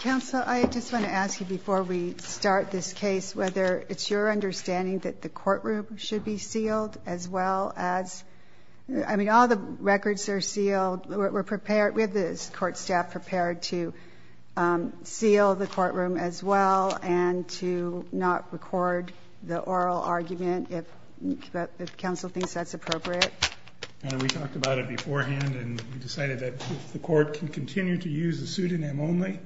Council, I just want to ask you, before we start this case, whether it's your understanding that the courtroom should be sealed, as well as, I mean, all the records are sealed, we're prepared, we have the court staff prepared to seal the courtroom as well, and to not record the oral argument, if council thinks that's appropriate. We talked about it beforehand, and we decided that if the court can continue to use the pseudonym only,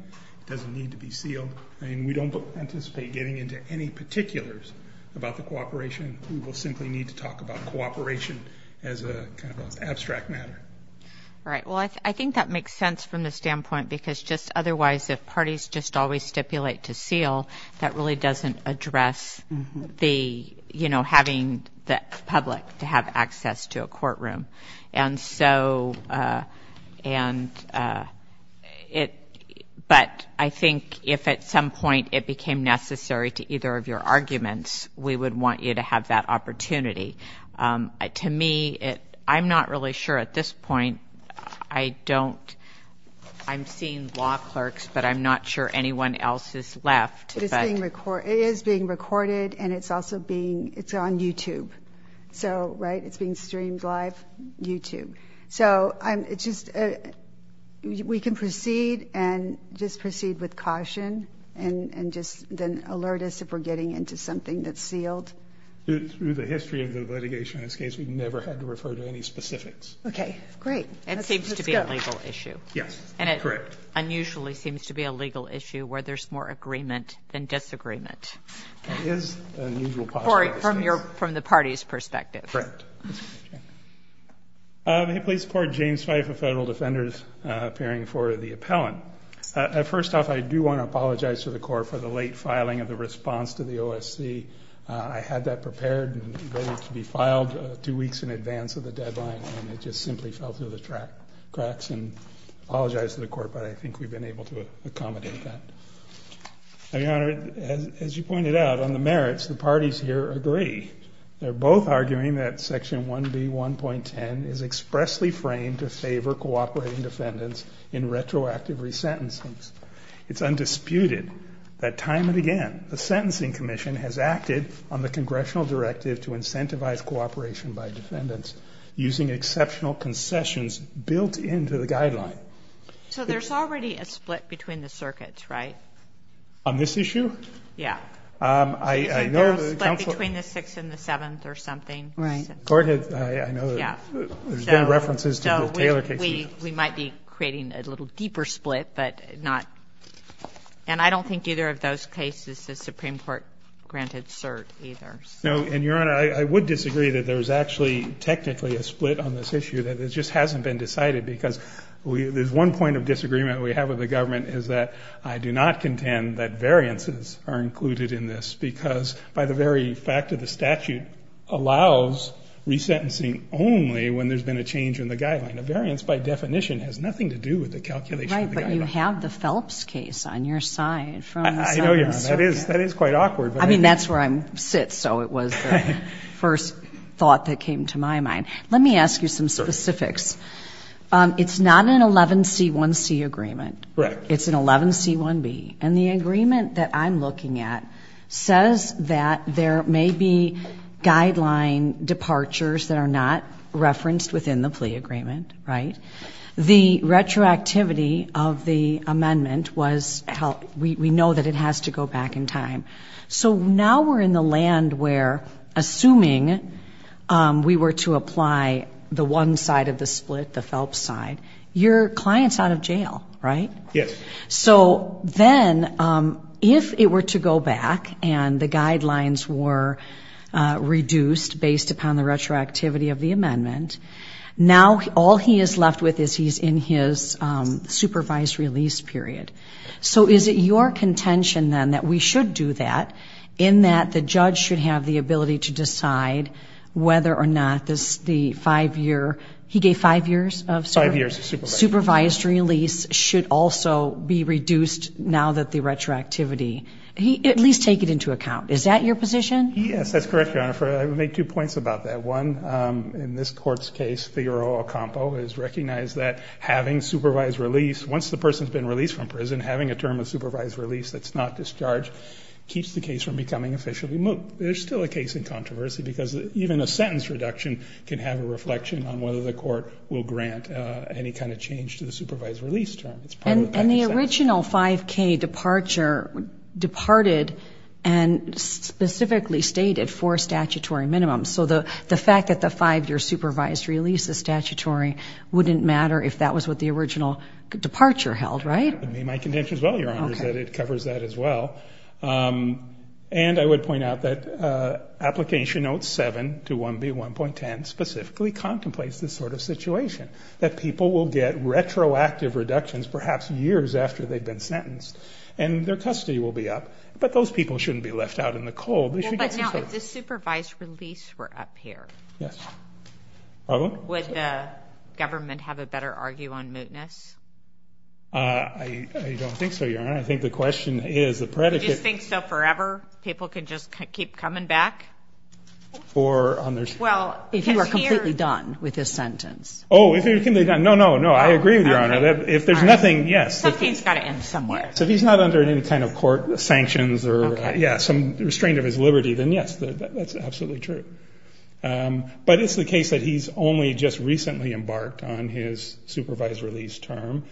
it doesn't need to be sealed, and we don't anticipate getting into any particulars about the cooperation, we will simply need to talk about cooperation as a kind of abstract matter. Right. Well, I think that makes sense from the standpoint, because just otherwise, if parties just always stipulate to seal, that really doesn't address the, you know, having the public to have access to a courtroom, and so, and it, but I think if at some point it became necessary to either of your arguments, we would want you to have that opportunity. To me, it, I'm not really sure at this point, I don't, I'm seeing law clerks, but I'm not sure anyone else has left, but It is being recorded, and it's also being, it's on YouTube, so, right, it's being streamed live, YouTube, so, I'm, it's just, we can proceed and just proceed with caution, and just then alert us if we're getting into something that's sealed. Through the history of the litigation in this case, we've never had to refer to any specifics. Okay, great. It seems to be a legal issue. Yes, correct. And it unusually seems to be a legal issue where there's more agreement than disagreement. It is an unusual possibility. Cory, from your, from the party's perspective. Correct. May I please report, James Fife of Federal Defenders, appearing for the appellant. First off, I do want to apologize to the court for the late filing of the response to the OSC. I had that prepared and ready to be filed two weeks in advance of the deadline, and it just simply fell through the cracks, and I apologize to the court, but I think we've been able to accommodate that. Now, Your Honor, as you pointed out, on the merits, the parties here agree. They're both arguing that Section 1B.1.10 is expressly framed to favor cooperating defendants in retroactive resentencings. It's undisputed that time and again, the Sentencing Commission has acted on the congressional directive to incentivize cooperation by defendants using exceptional concessions built into the guideline. So there's already a split between the circuits, right? On this issue? Yeah. So there's a split between the Sixth and the Seventh or something? Right. The court has, I know, there's been references to the Taylor case. We might be creating a little deeper split, but not, and I don't think either of those cases the Supreme Court granted cert either. No, and Your Honor, I would disagree that there's actually technically a split on this side, because there's one point of disagreement we have with the government is that I do not contend that variances are included in this, because by the very fact of the statute allows resentencing only when there's been a change in the guideline. A variance, by definition, has nothing to do with the calculation of the guideline. Right, but you have the Phelps case on your side from the Seventh Circuit. I know, Your Honor. That is quite awkward. I mean, that's where I sit, so it was the first thought that came to my mind. Let me ask you some specifics. It's not an 11C1C agreement. It's an 11C1B, and the agreement that I'm looking at says that there may be guideline departures that are not referenced within the plea agreement, right? The retroactivity of the amendment was, we know that it has to go back in time. So now we're in the land where, assuming we were to apply the one side of the split, the Phelps side, your client's out of jail, right? Yes. So then, if it were to go back and the guidelines were reduced based upon the retroactivity of the amendment, now all he is left with is he's in his supervised release period. So is it your contention, then, that we should do that, in that the judge should have the ability to decide whether or not this, the five-year, he gave five years of supervised release, should also be reduced now that the retroactivity, at least take it into account. Is that your position? Yes, that's correct, Your Honor. I would make two points about that. One, in this court's case, Figaro-Ocampo has recognized that having supervised release, once the person's been released from prison, having a term of supervised release that's not discharged keeps the case from becoming officially moot. There's still a case in controversy because even a sentence reduction can have a reflection on whether the court will grant any kind of change to the supervised release term. And the original 5K departure departed and specifically stated four statutory minimums. So the fact that the five-year supervised release is statutory wouldn't matter if that was what the original departure held, right? That would be my contention as well, Your Honor, is that it covers that as well. And I would point out that Application Note 7 to 1B1.10 specifically contemplates this sort of situation, that people will get retroactive reductions perhaps years after they've been sentenced and their custody will be up, but those people shouldn't be left out in the cold. Well, but now, if the supervised release were up here, would the government have a better argue on mootness? I don't think so, Your Honor. I think the question is the predicate... Do you think so forever? People can just keep coming back? For on their... Well, if you are completely done with this sentence. Oh, if you're completely done. No, no, no. I agree with Your Honor. If there's nothing, yes. Something's got to end somewhere. So if he's not under any kind of court sanctions or, yeah, some restraint of his liberty, then yes, that's absolutely true. But it's the case that he's only just recently embarked on his supervised release term.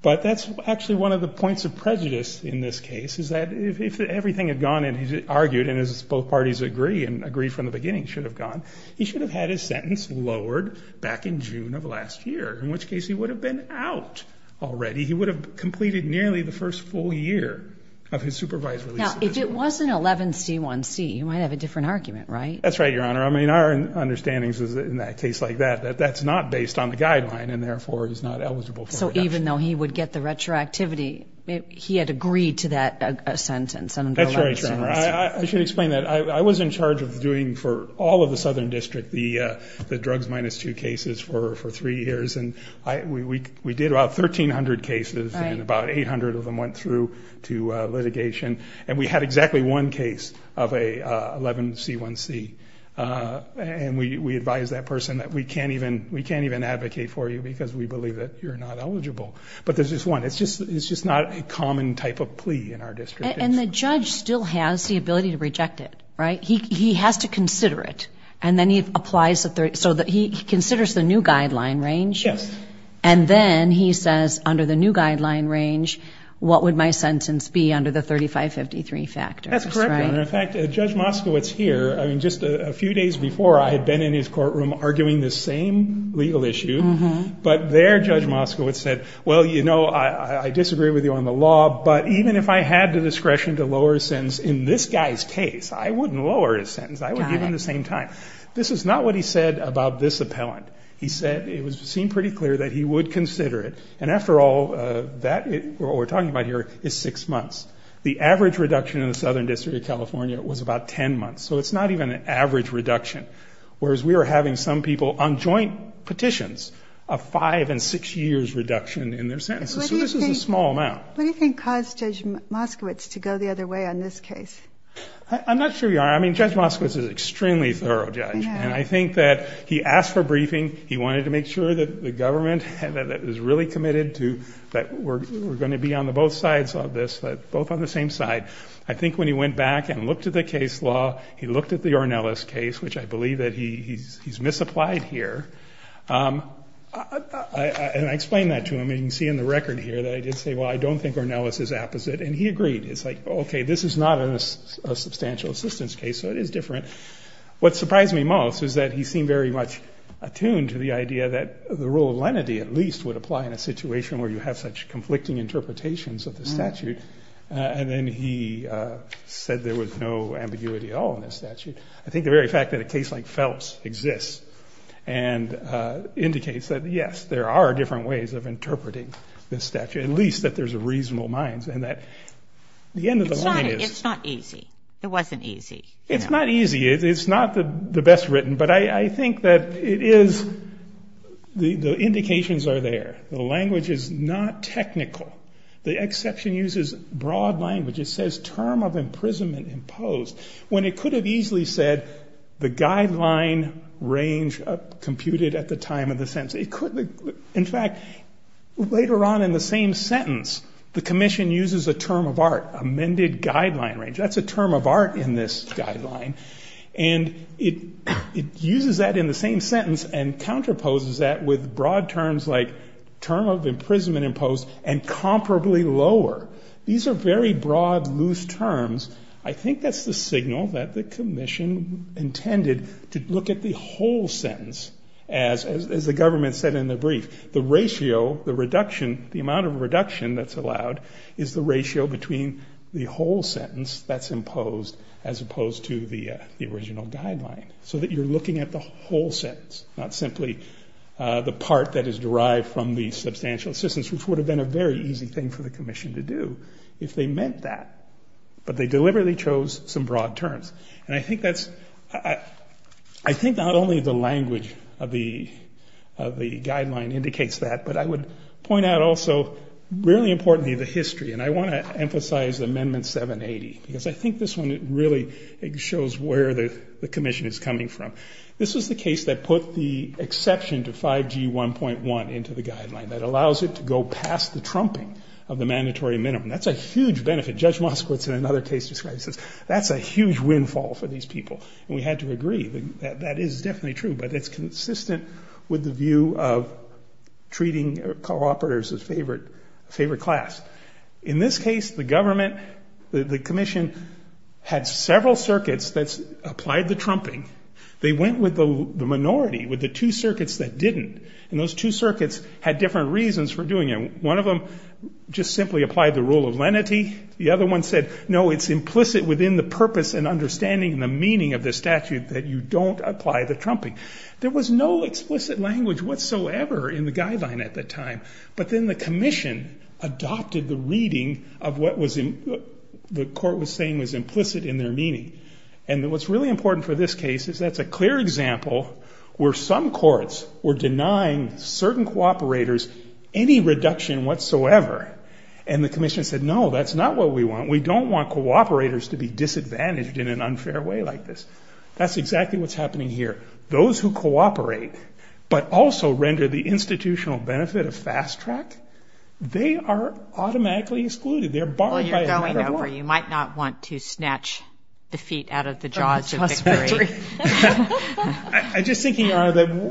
But that's actually one of the points of prejudice in this case, is that if everything had gone and he's argued and as both parties agree and agree from the beginning should have gone, he should have had his sentence lowered back in June of last year, in which case he would have been out already. He would have completed nearly the first full year of his supervised release. Now, if it wasn't 11C1C, you might have a different argument, right? That's right, Your Honor. I mean, our understanding is, in a case like that, that that's not based on the guideline and therefore he's not eligible for reduction. So even though he would get the retroactivity, he had agreed to that sentence under 11C1C? That's right, Your Honor. I should explain that. I was in charge of doing, for all of the Southern District, the drugs minus two cases for three years and we did about 1,300 cases and about 800 of them went through to litigation. And we had exactly one case of a 11C1C. And we advised that person that we can't even advocate for you because we believe that you're not eligible. But there's just one. It's just not a common type of plea in our district. And the judge still has the ability to reject it, right? He has to consider it. And then he applies, so he considers the new guideline range? Yes. And then he says, under the new guideline range, what would my sentence be under the 3553 factor? That's correct, Your Honor. In fact, Judge Moskowitz here, I mean, just a few days before, I had been in his courtroom arguing this same legal issue. But there, Judge Moskowitz said, well, you know, I disagree with you on the law, but even if I had the discretion to lower his sentence in this guy's case, I wouldn't lower his sentence. I would give him the same time. This is not what he said about this appellant. He said it seemed pretty clear that he would consider it. And after all, what we're talking about here is six months. The average reduction in the Southern District of California was about 10 months. So it's not even an average reduction. Whereas we were having some people on joint petitions, a five and six years reduction in their sentences. So this is a small amount. What do you think caused Judge Moskowitz to go the other way on this case? I'm not sure, Your Honor. I mean, Judge Moskowitz is an extremely thorough judge. And I think that he asked for briefing. He wanted to make sure that the government that was really committed to that we're going to be on the both sides of this, both on the same side. I think when he went back and looked at the case law, he looked at the Ornelas case, which I believe that he's misapplied here. And I explained that to him. You can see in the record here that I did say, well, I don't think Ornelas is apposite. And he agreed. It's like, OK, this is not a substantial assistance case, so it is different. What surprised me most is that he seemed very much attuned to the idea that the rule of lenity at least would apply in a situation where you have such conflicting interpretations of the statute. And then he said there was no ambiguity at all in the statute. I think the very fact that a case like Phelps exists and indicates that, yes, there are different ways of interpreting the statute, at least that there's a reasonable mind and that the end of the line is... It's not easy. It wasn't easy. It's not easy. It's not the best written. But I think that it is... The indications are there. The language is not technical. The exception uses broad language. It says term of imprisonment imposed, when it could have easily said the guideline range computed at the time of the sentence. In fact, later on in the same sentence, the commission uses a term of art, amended guideline range. That's a term of art in this guideline. And it uses that in the same sentence and counterposes that with broad terms like term of imprisonment imposed and comparably lower. These are very broad, loose terms. I think that's the signal that the commission intended to look at the whole sentence as the government said in the brief. The ratio, the reduction, the amount of reduction that's allowed is the ratio between the whole sentence that's imposed as opposed to the original guideline. So that you're looking at the whole sentence, not simply the part that is derived from the substantial assistance, which would have been a very easy thing for the commission to do if they meant that. But they deliberately chose some broad terms. And I think that's... I think not only the language of the guideline indicates that, but I would point out also, really importantly, the history. And I want to emphasize Amendment 780, because I think this one really shows where the commission is coming from. This was the case that put the exception to 5G 1.1 into the guideline, that allows it to go past the trumping of the mandatory minimum. That's a huge benefit. Judge Moskowitz in another case describes this. That's a huge windfall for these people. And we had to agree that that is definitely true, but it's consistent with the view of treating co-operators as favorite class. In this case, the government, the commission, had several circuits that applied the trumping. They went with the minority, with the two circuits that didn't. And those two circuits had different reasons for doing it. One of them just simply applied the rule of lenity. The other one said, no, it's implicit within the purpose and understanding and the meaning of this statute that you don't apply the trumping. There was no explicit language whatsoever in the guideline at the time, but then the commission adopted the reading of what the court was saying was implicit in their meaning. And what's really important for this case is that's a clear example where some courts were denying certain co-operators any reduction whatsoever. And the commission said, no, that's not what we want. We don't want co-operators to be disadvantaged in an unfair way like this. That's exactly what's happening here. Those who cooperate but also render the institutional benefit of fast track, they are automatically excluded. They're barred by another law. You might not want to snatch the feet out of the jaws of victory. I'm just thinking,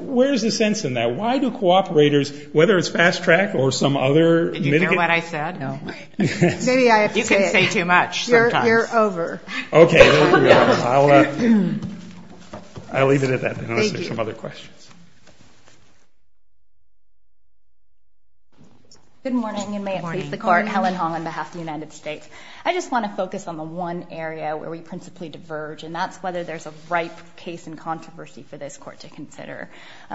where's the sense in that? Why do co-operators, whether it's fast track or some other. Did you hear what I said? No. Maybe I have to say it. You can say too much sometimes. You're over. Okay. I'll leave it at that. Thank you. Unless there's some other questions. Good morning, and may it please the Court. Helen Hong on behalf of the United States. I just want to focus on the one area where we principally diverge, and that's whether there's a ripe case in controversy for this court to consider.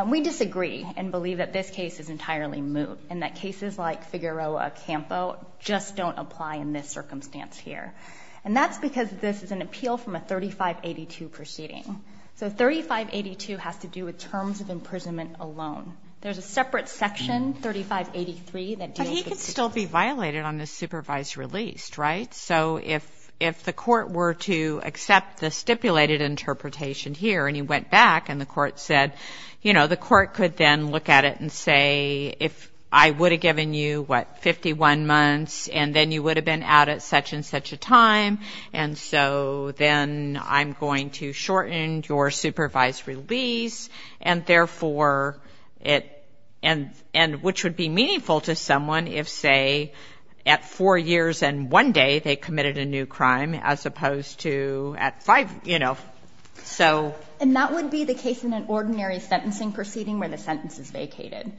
We disagree and believe that this case is entirely moot, and that cases like Figueroa And that's why we're here. And that's why we're here. And that's why we're here. I think the whole point of this is an appeal from a 3582 proceeding. So 3582 has to do with terms of imprisonment alone. There's a separate section, 3583, that deals with... But he could still be violated on the supervised release, right? So if the Court were to accept the stipulated interpretation here, and he went back and the Court said, you know, the Court could then look at it and say, if I would have given you what 51 months, and then you would have been out at such and such a time. And so then I'm going to shorten your supervised release, and therefore it... And which would be meaningful to someone if, say, at four years and one day, they committed a new crime, as opposed to at five, you know, so... And that would be the case in an ordinary sentencing proceeding where the sentence is vacated.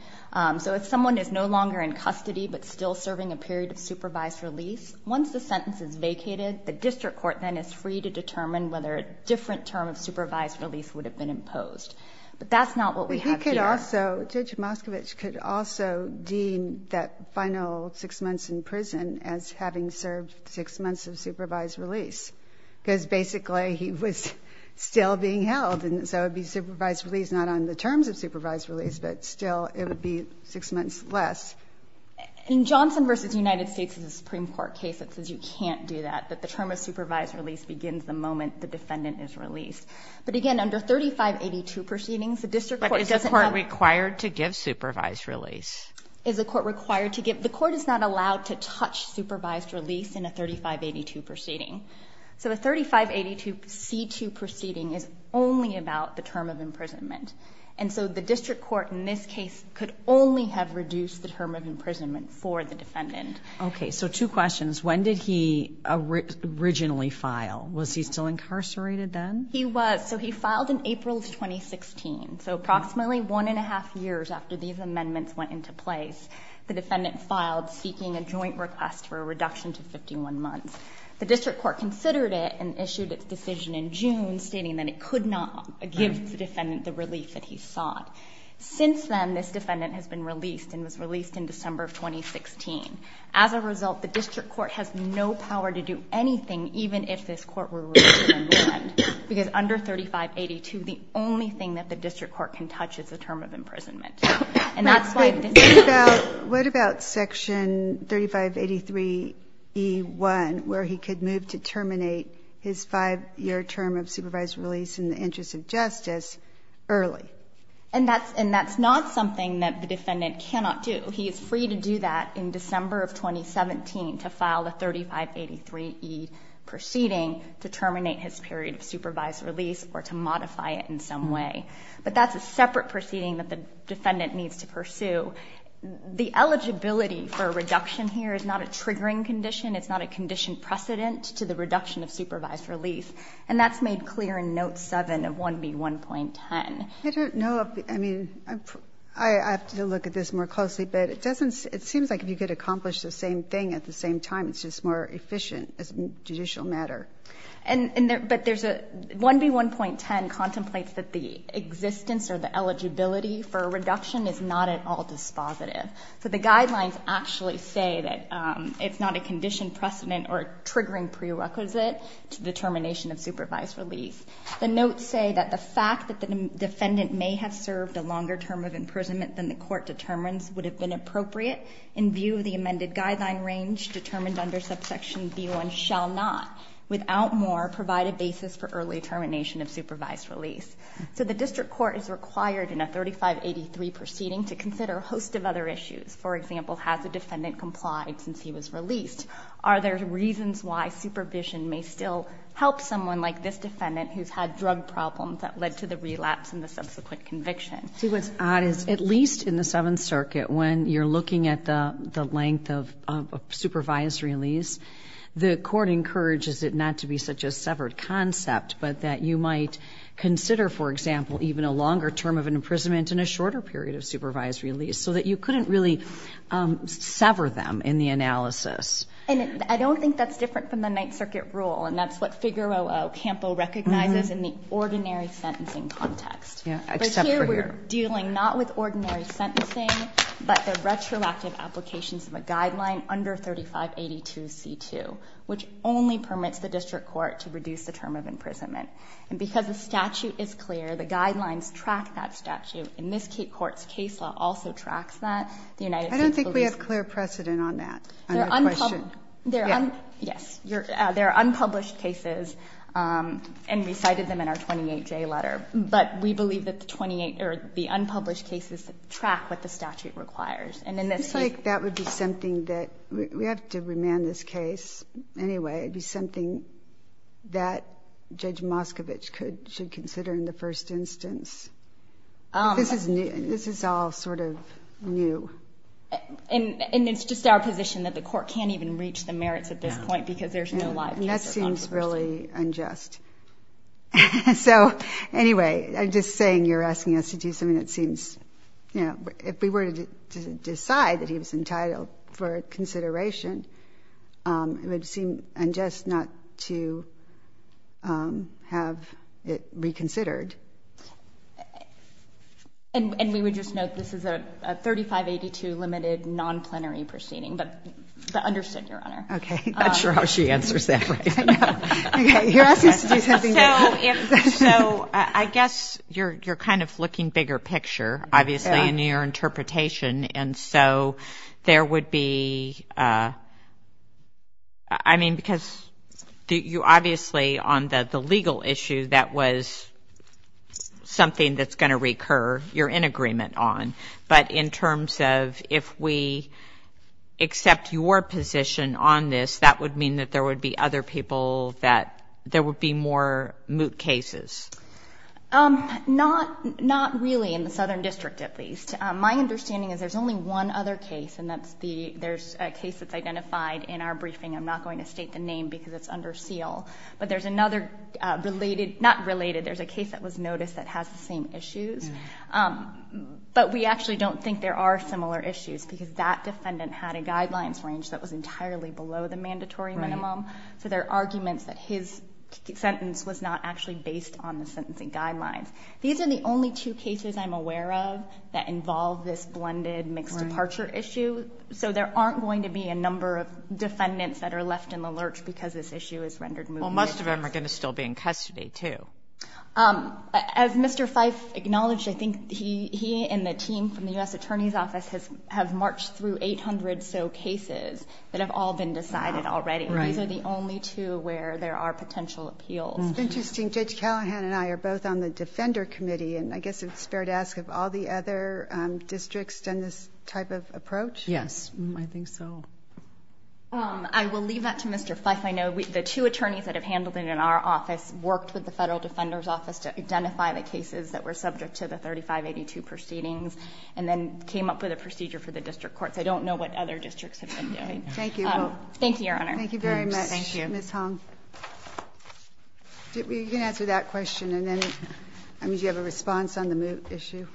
So if someone is no longer in custody but still serving a period of supervised release, once the sentence is vacated, the district court then is free to determine whether a different term of supervised release would have been imposed. But that's not what we have here. But he could also, Judge Moskowitz could also deem that final six months in prison as having served six months of supervised release, because basically he was still being held, and so it would be supervised release not on the terms of supervised release, but still it would be six months less. In Johnson v. United States, it's a Supreme Court case that says you can't do that, that the term of supervised release begins the moment the defendant is released. But again, under 3582 proceedings, the district court doesn't have... But is the court required to give supervised release? Is the court required to give... The court is not allowed to touch supervised release in a 3582 proceeding. So a 3582 C2 proceeding is only about the term of imprisonment. And so the district court in this case could only have reduced the term of imprisonment for the defendant. Okay. So two questions. When did he originally file? Was he still incarcerated then? He was. So he filed in April of 2016. So approximately one and a half years after these amendments went into place, the defendant filed seeking a joint request for a reduction to 51 months. The district court considered it and issued its decision in June, stating that it could not give the defendant the relief that he sought. Since then, this defendant has been released and was released in December of 2016. As a result, the district court has no power to do anything, even if this court were released in the end. Because under 3582, the only thing that the district court can touch is the term of imprisonment. And that's why... What about section 3583E1, where he could move to terminate his five-year term of supervised release in the interest of justice early? And that's not something that the defendant cannot do. He is free to do that in December of 2017, to file the 3583E proceeding to terminate his period of supervised release or to modify it in some way. But that's a separate proceeding that the defendant needs to pursue. The eligibility for a reduction here is not a triggering condition. It's not a condition precedent to the reduction of supervised relief. And that's made clear in Note 7 of 1B1.10. I don't know if, I mean, I have to look at this more closely, but it doesn't, it seems like if you could accomplish the same thing at the same time, it's just more efficient as a judicial matter. And, but there's a, 1B1.10 contemplates that the existence or the eligibility for a reduction is not at all dispositive. So the guidelines actually say that it's not a condition precedent or a triggering prerequisite to the termination of supervised release. The notes say that the fact that the defendant may have served a longer term of imprisonment than the court determines would have been appropriate in view of the amended guideline range determined under subsection B1 shall not, without more, provide a basis for early termination of supervised release. So the district court is required in a 3583 proceeding to consider a host of other issues. For example, has the defendant complied since he was released? Are there reasons why supervision may still help someone like this defendant who's had drug problems that led to the relapse and the subsequent conviction? See, what's odd is at least in the Seventh Circuit, when you're looking at the length of a supervised release, the court encourages it not to be such a severed concept, but that you might consider, for example, even a longer term of an imprisonment and a shorter period of supervised release so that you couldn't really sever them in the analysis. And I don't think that's different from the Ninth Circuit rule, and that's what Figueroa Campo recognizes in the ordinary sentencing context. Except for here. But here we're dealing not with ordinary sentencing, but the retroactive applications of a guideline under 3582C2, which only permits the district court to reduce the term of imprisonment. And because the statute is clear, the guidelines track that statute, and this court's case law also tracks that. The United States police law. I don't think we have clear precedent on that, on your question. Yes. There are unpublished cases and we cited them in our 28J letter. But we believe that the 28 or the unpublished cases track what the statute requires. And in this case. It seems like that would be something that we have to remand this case. Anyway, it would be something that Judge Moskovich should consider in the first instance. This is all sort of new. And it's just our position that the court can't even reach the merits at this point because there's no live case or controversy. That seems really unjust. So anyway, I'm just saying you're asking us to do something that seems, you know, if we were to decide that he was entitled for consideration, it would seem unjust not to have it reconsidered. And we would just note this is a 3582 limited non-plenary proceeding, but understood, Your Honor. Okay. I'm not sure how she answers that way. Okay. You're asking us to do something different. So I guess you're kind of looking bigger picture, obviously, in your interpretation. And so there would be, I mean, because you obviously on the legal issue that was something that's going to recur, you're in agreement on. But in terms of if we accept your position on this, that would mean that there would be other people that there would be more moot cases? Not really in the Southern District, at least. My understanding is there's only one other case, and that's the, there's a case that's identified in our briefing. I'm not going to state the name because it's under seal, but there's another related, not related, there's a case that was noticed that has the same issues, but we actually don't think there are similar issues because that defendant had a guidelines range that was So there are arguments that his sentence was not actually based on the sentencing guidelines. These are the only two cases I'm aware of that involve this blended mixed departure issue. So there aren't going to be a number of defendants that are left in the lurch because this issue is rendered moot. Well, most of them are going to still be in custody, too. As Mr. Fife acknowledged, I think he and the team from the U.S. Attorney's Office have marched through 800 or so cases that have all been decided already. Right. These are the only two where there are potential appeals. Interesting. Judge Callahan and I are both on the Defender Committee, and I guess it's fair to ask if all the other districts done this type of approach? Yes, I think so. I will leave that to Mr. Fife. I know the two attorneys that have handled it in our office worked with the Federal Defender's Office to identify the cases that were subject to the 3582 proceedings and then came up with a procedure for the district courts. I don't know what other districts have been doing. Thank you. Thank you, Your Honor. Thank you very much. Ms. Hong. You can answer that question, and then, I mean, do you have a response on the moot issue?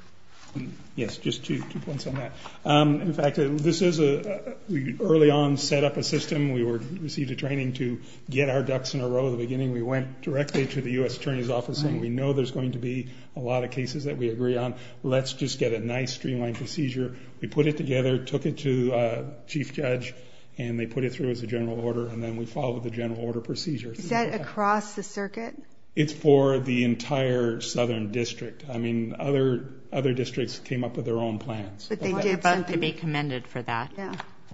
Yes, just two points on that. In fact, this is a, we early on set up a system. We received a training to get our ducks in a row at the beginning. We went directly to the U.S. Attorney's Office and we know there's going to be a lot of cases that we agree on. Let's just get a nice streamlined procedure. We put it together, took it to Chief Judge, and they put it through as a general order, and then we followed the general order procedure. Is that across the circuit? It's for the entire southern district. I mean, other districts came up with their own plans. But they did vote to be commended for that.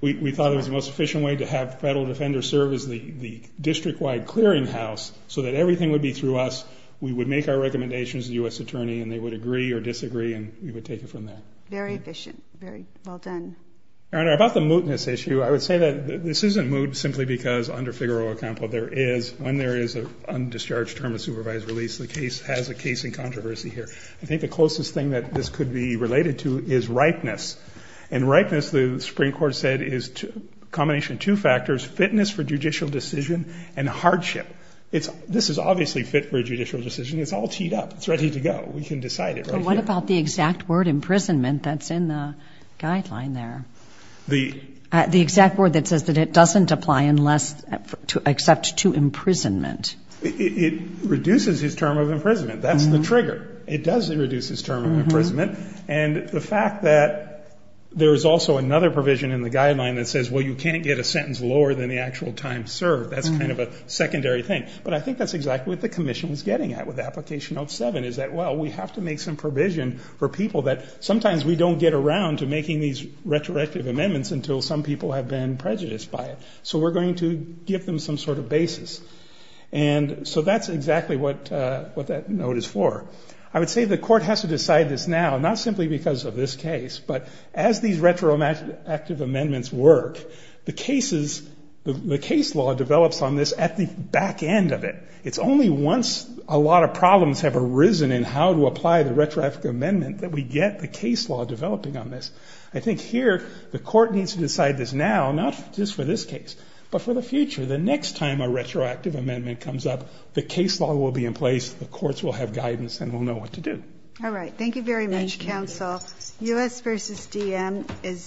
We thought it was the most efficient way to have Federal Defenders serve as the district-wide clearing house so that everything would be through us. We would make our recommendations to the U.S. Attorney and they would agree or disagree and we would take it from there. Very efficient. Very well done. Your Honor, about the mootness issue, I would say that this isn't moot simply because under Figaro Acampo there is, when there is an undischarged term of supervised release, the case has a case in controversy here. I think the closest thing that this could be related to is ripeness. And ripeness, the Supreme Court said, is a combination of two factors, fitness for judicial decision and hardship. This is obviously fit for a judicial decision. It's ready to go. We can decide it right here. What about the exact word imprisonment that's in the guideline there? The exact word that says that it doesn't apply unless, except to imprisonment. It reduces his term of imprisonment. That's the trigger. It does reduce his term of imprisonment. And the fact that there is also another provision in the guideline that says, well, you can't get a sentence lower than the actual time served, that's kind of a secondary thing. But I think that's exactly what the Commission is getting at with Application 07 is that, well, we have to make some provision for people that sometimes we don't get around to making these retroactive amendments until some people have been prejudiced by it. So we're going to give them some sort of basis. And so that's exactly what that note is for. I would say the court has to decide this now, not simply because of this case, but as these retroactive amendments work, the case law develops on this at the back end of it. It's only once a lot of problems have arisen in how to apply the retroactive amendment that we get the case law developing on this. I think here, the court needs to decide this now, not just for this case, but for the future. The next time a retroactive amendment comes up, the case law will be in place, the courts will have guidance, and we'll know what to do. All right. Thank you very much, counsel. Thank you. U.S. v. D.M. is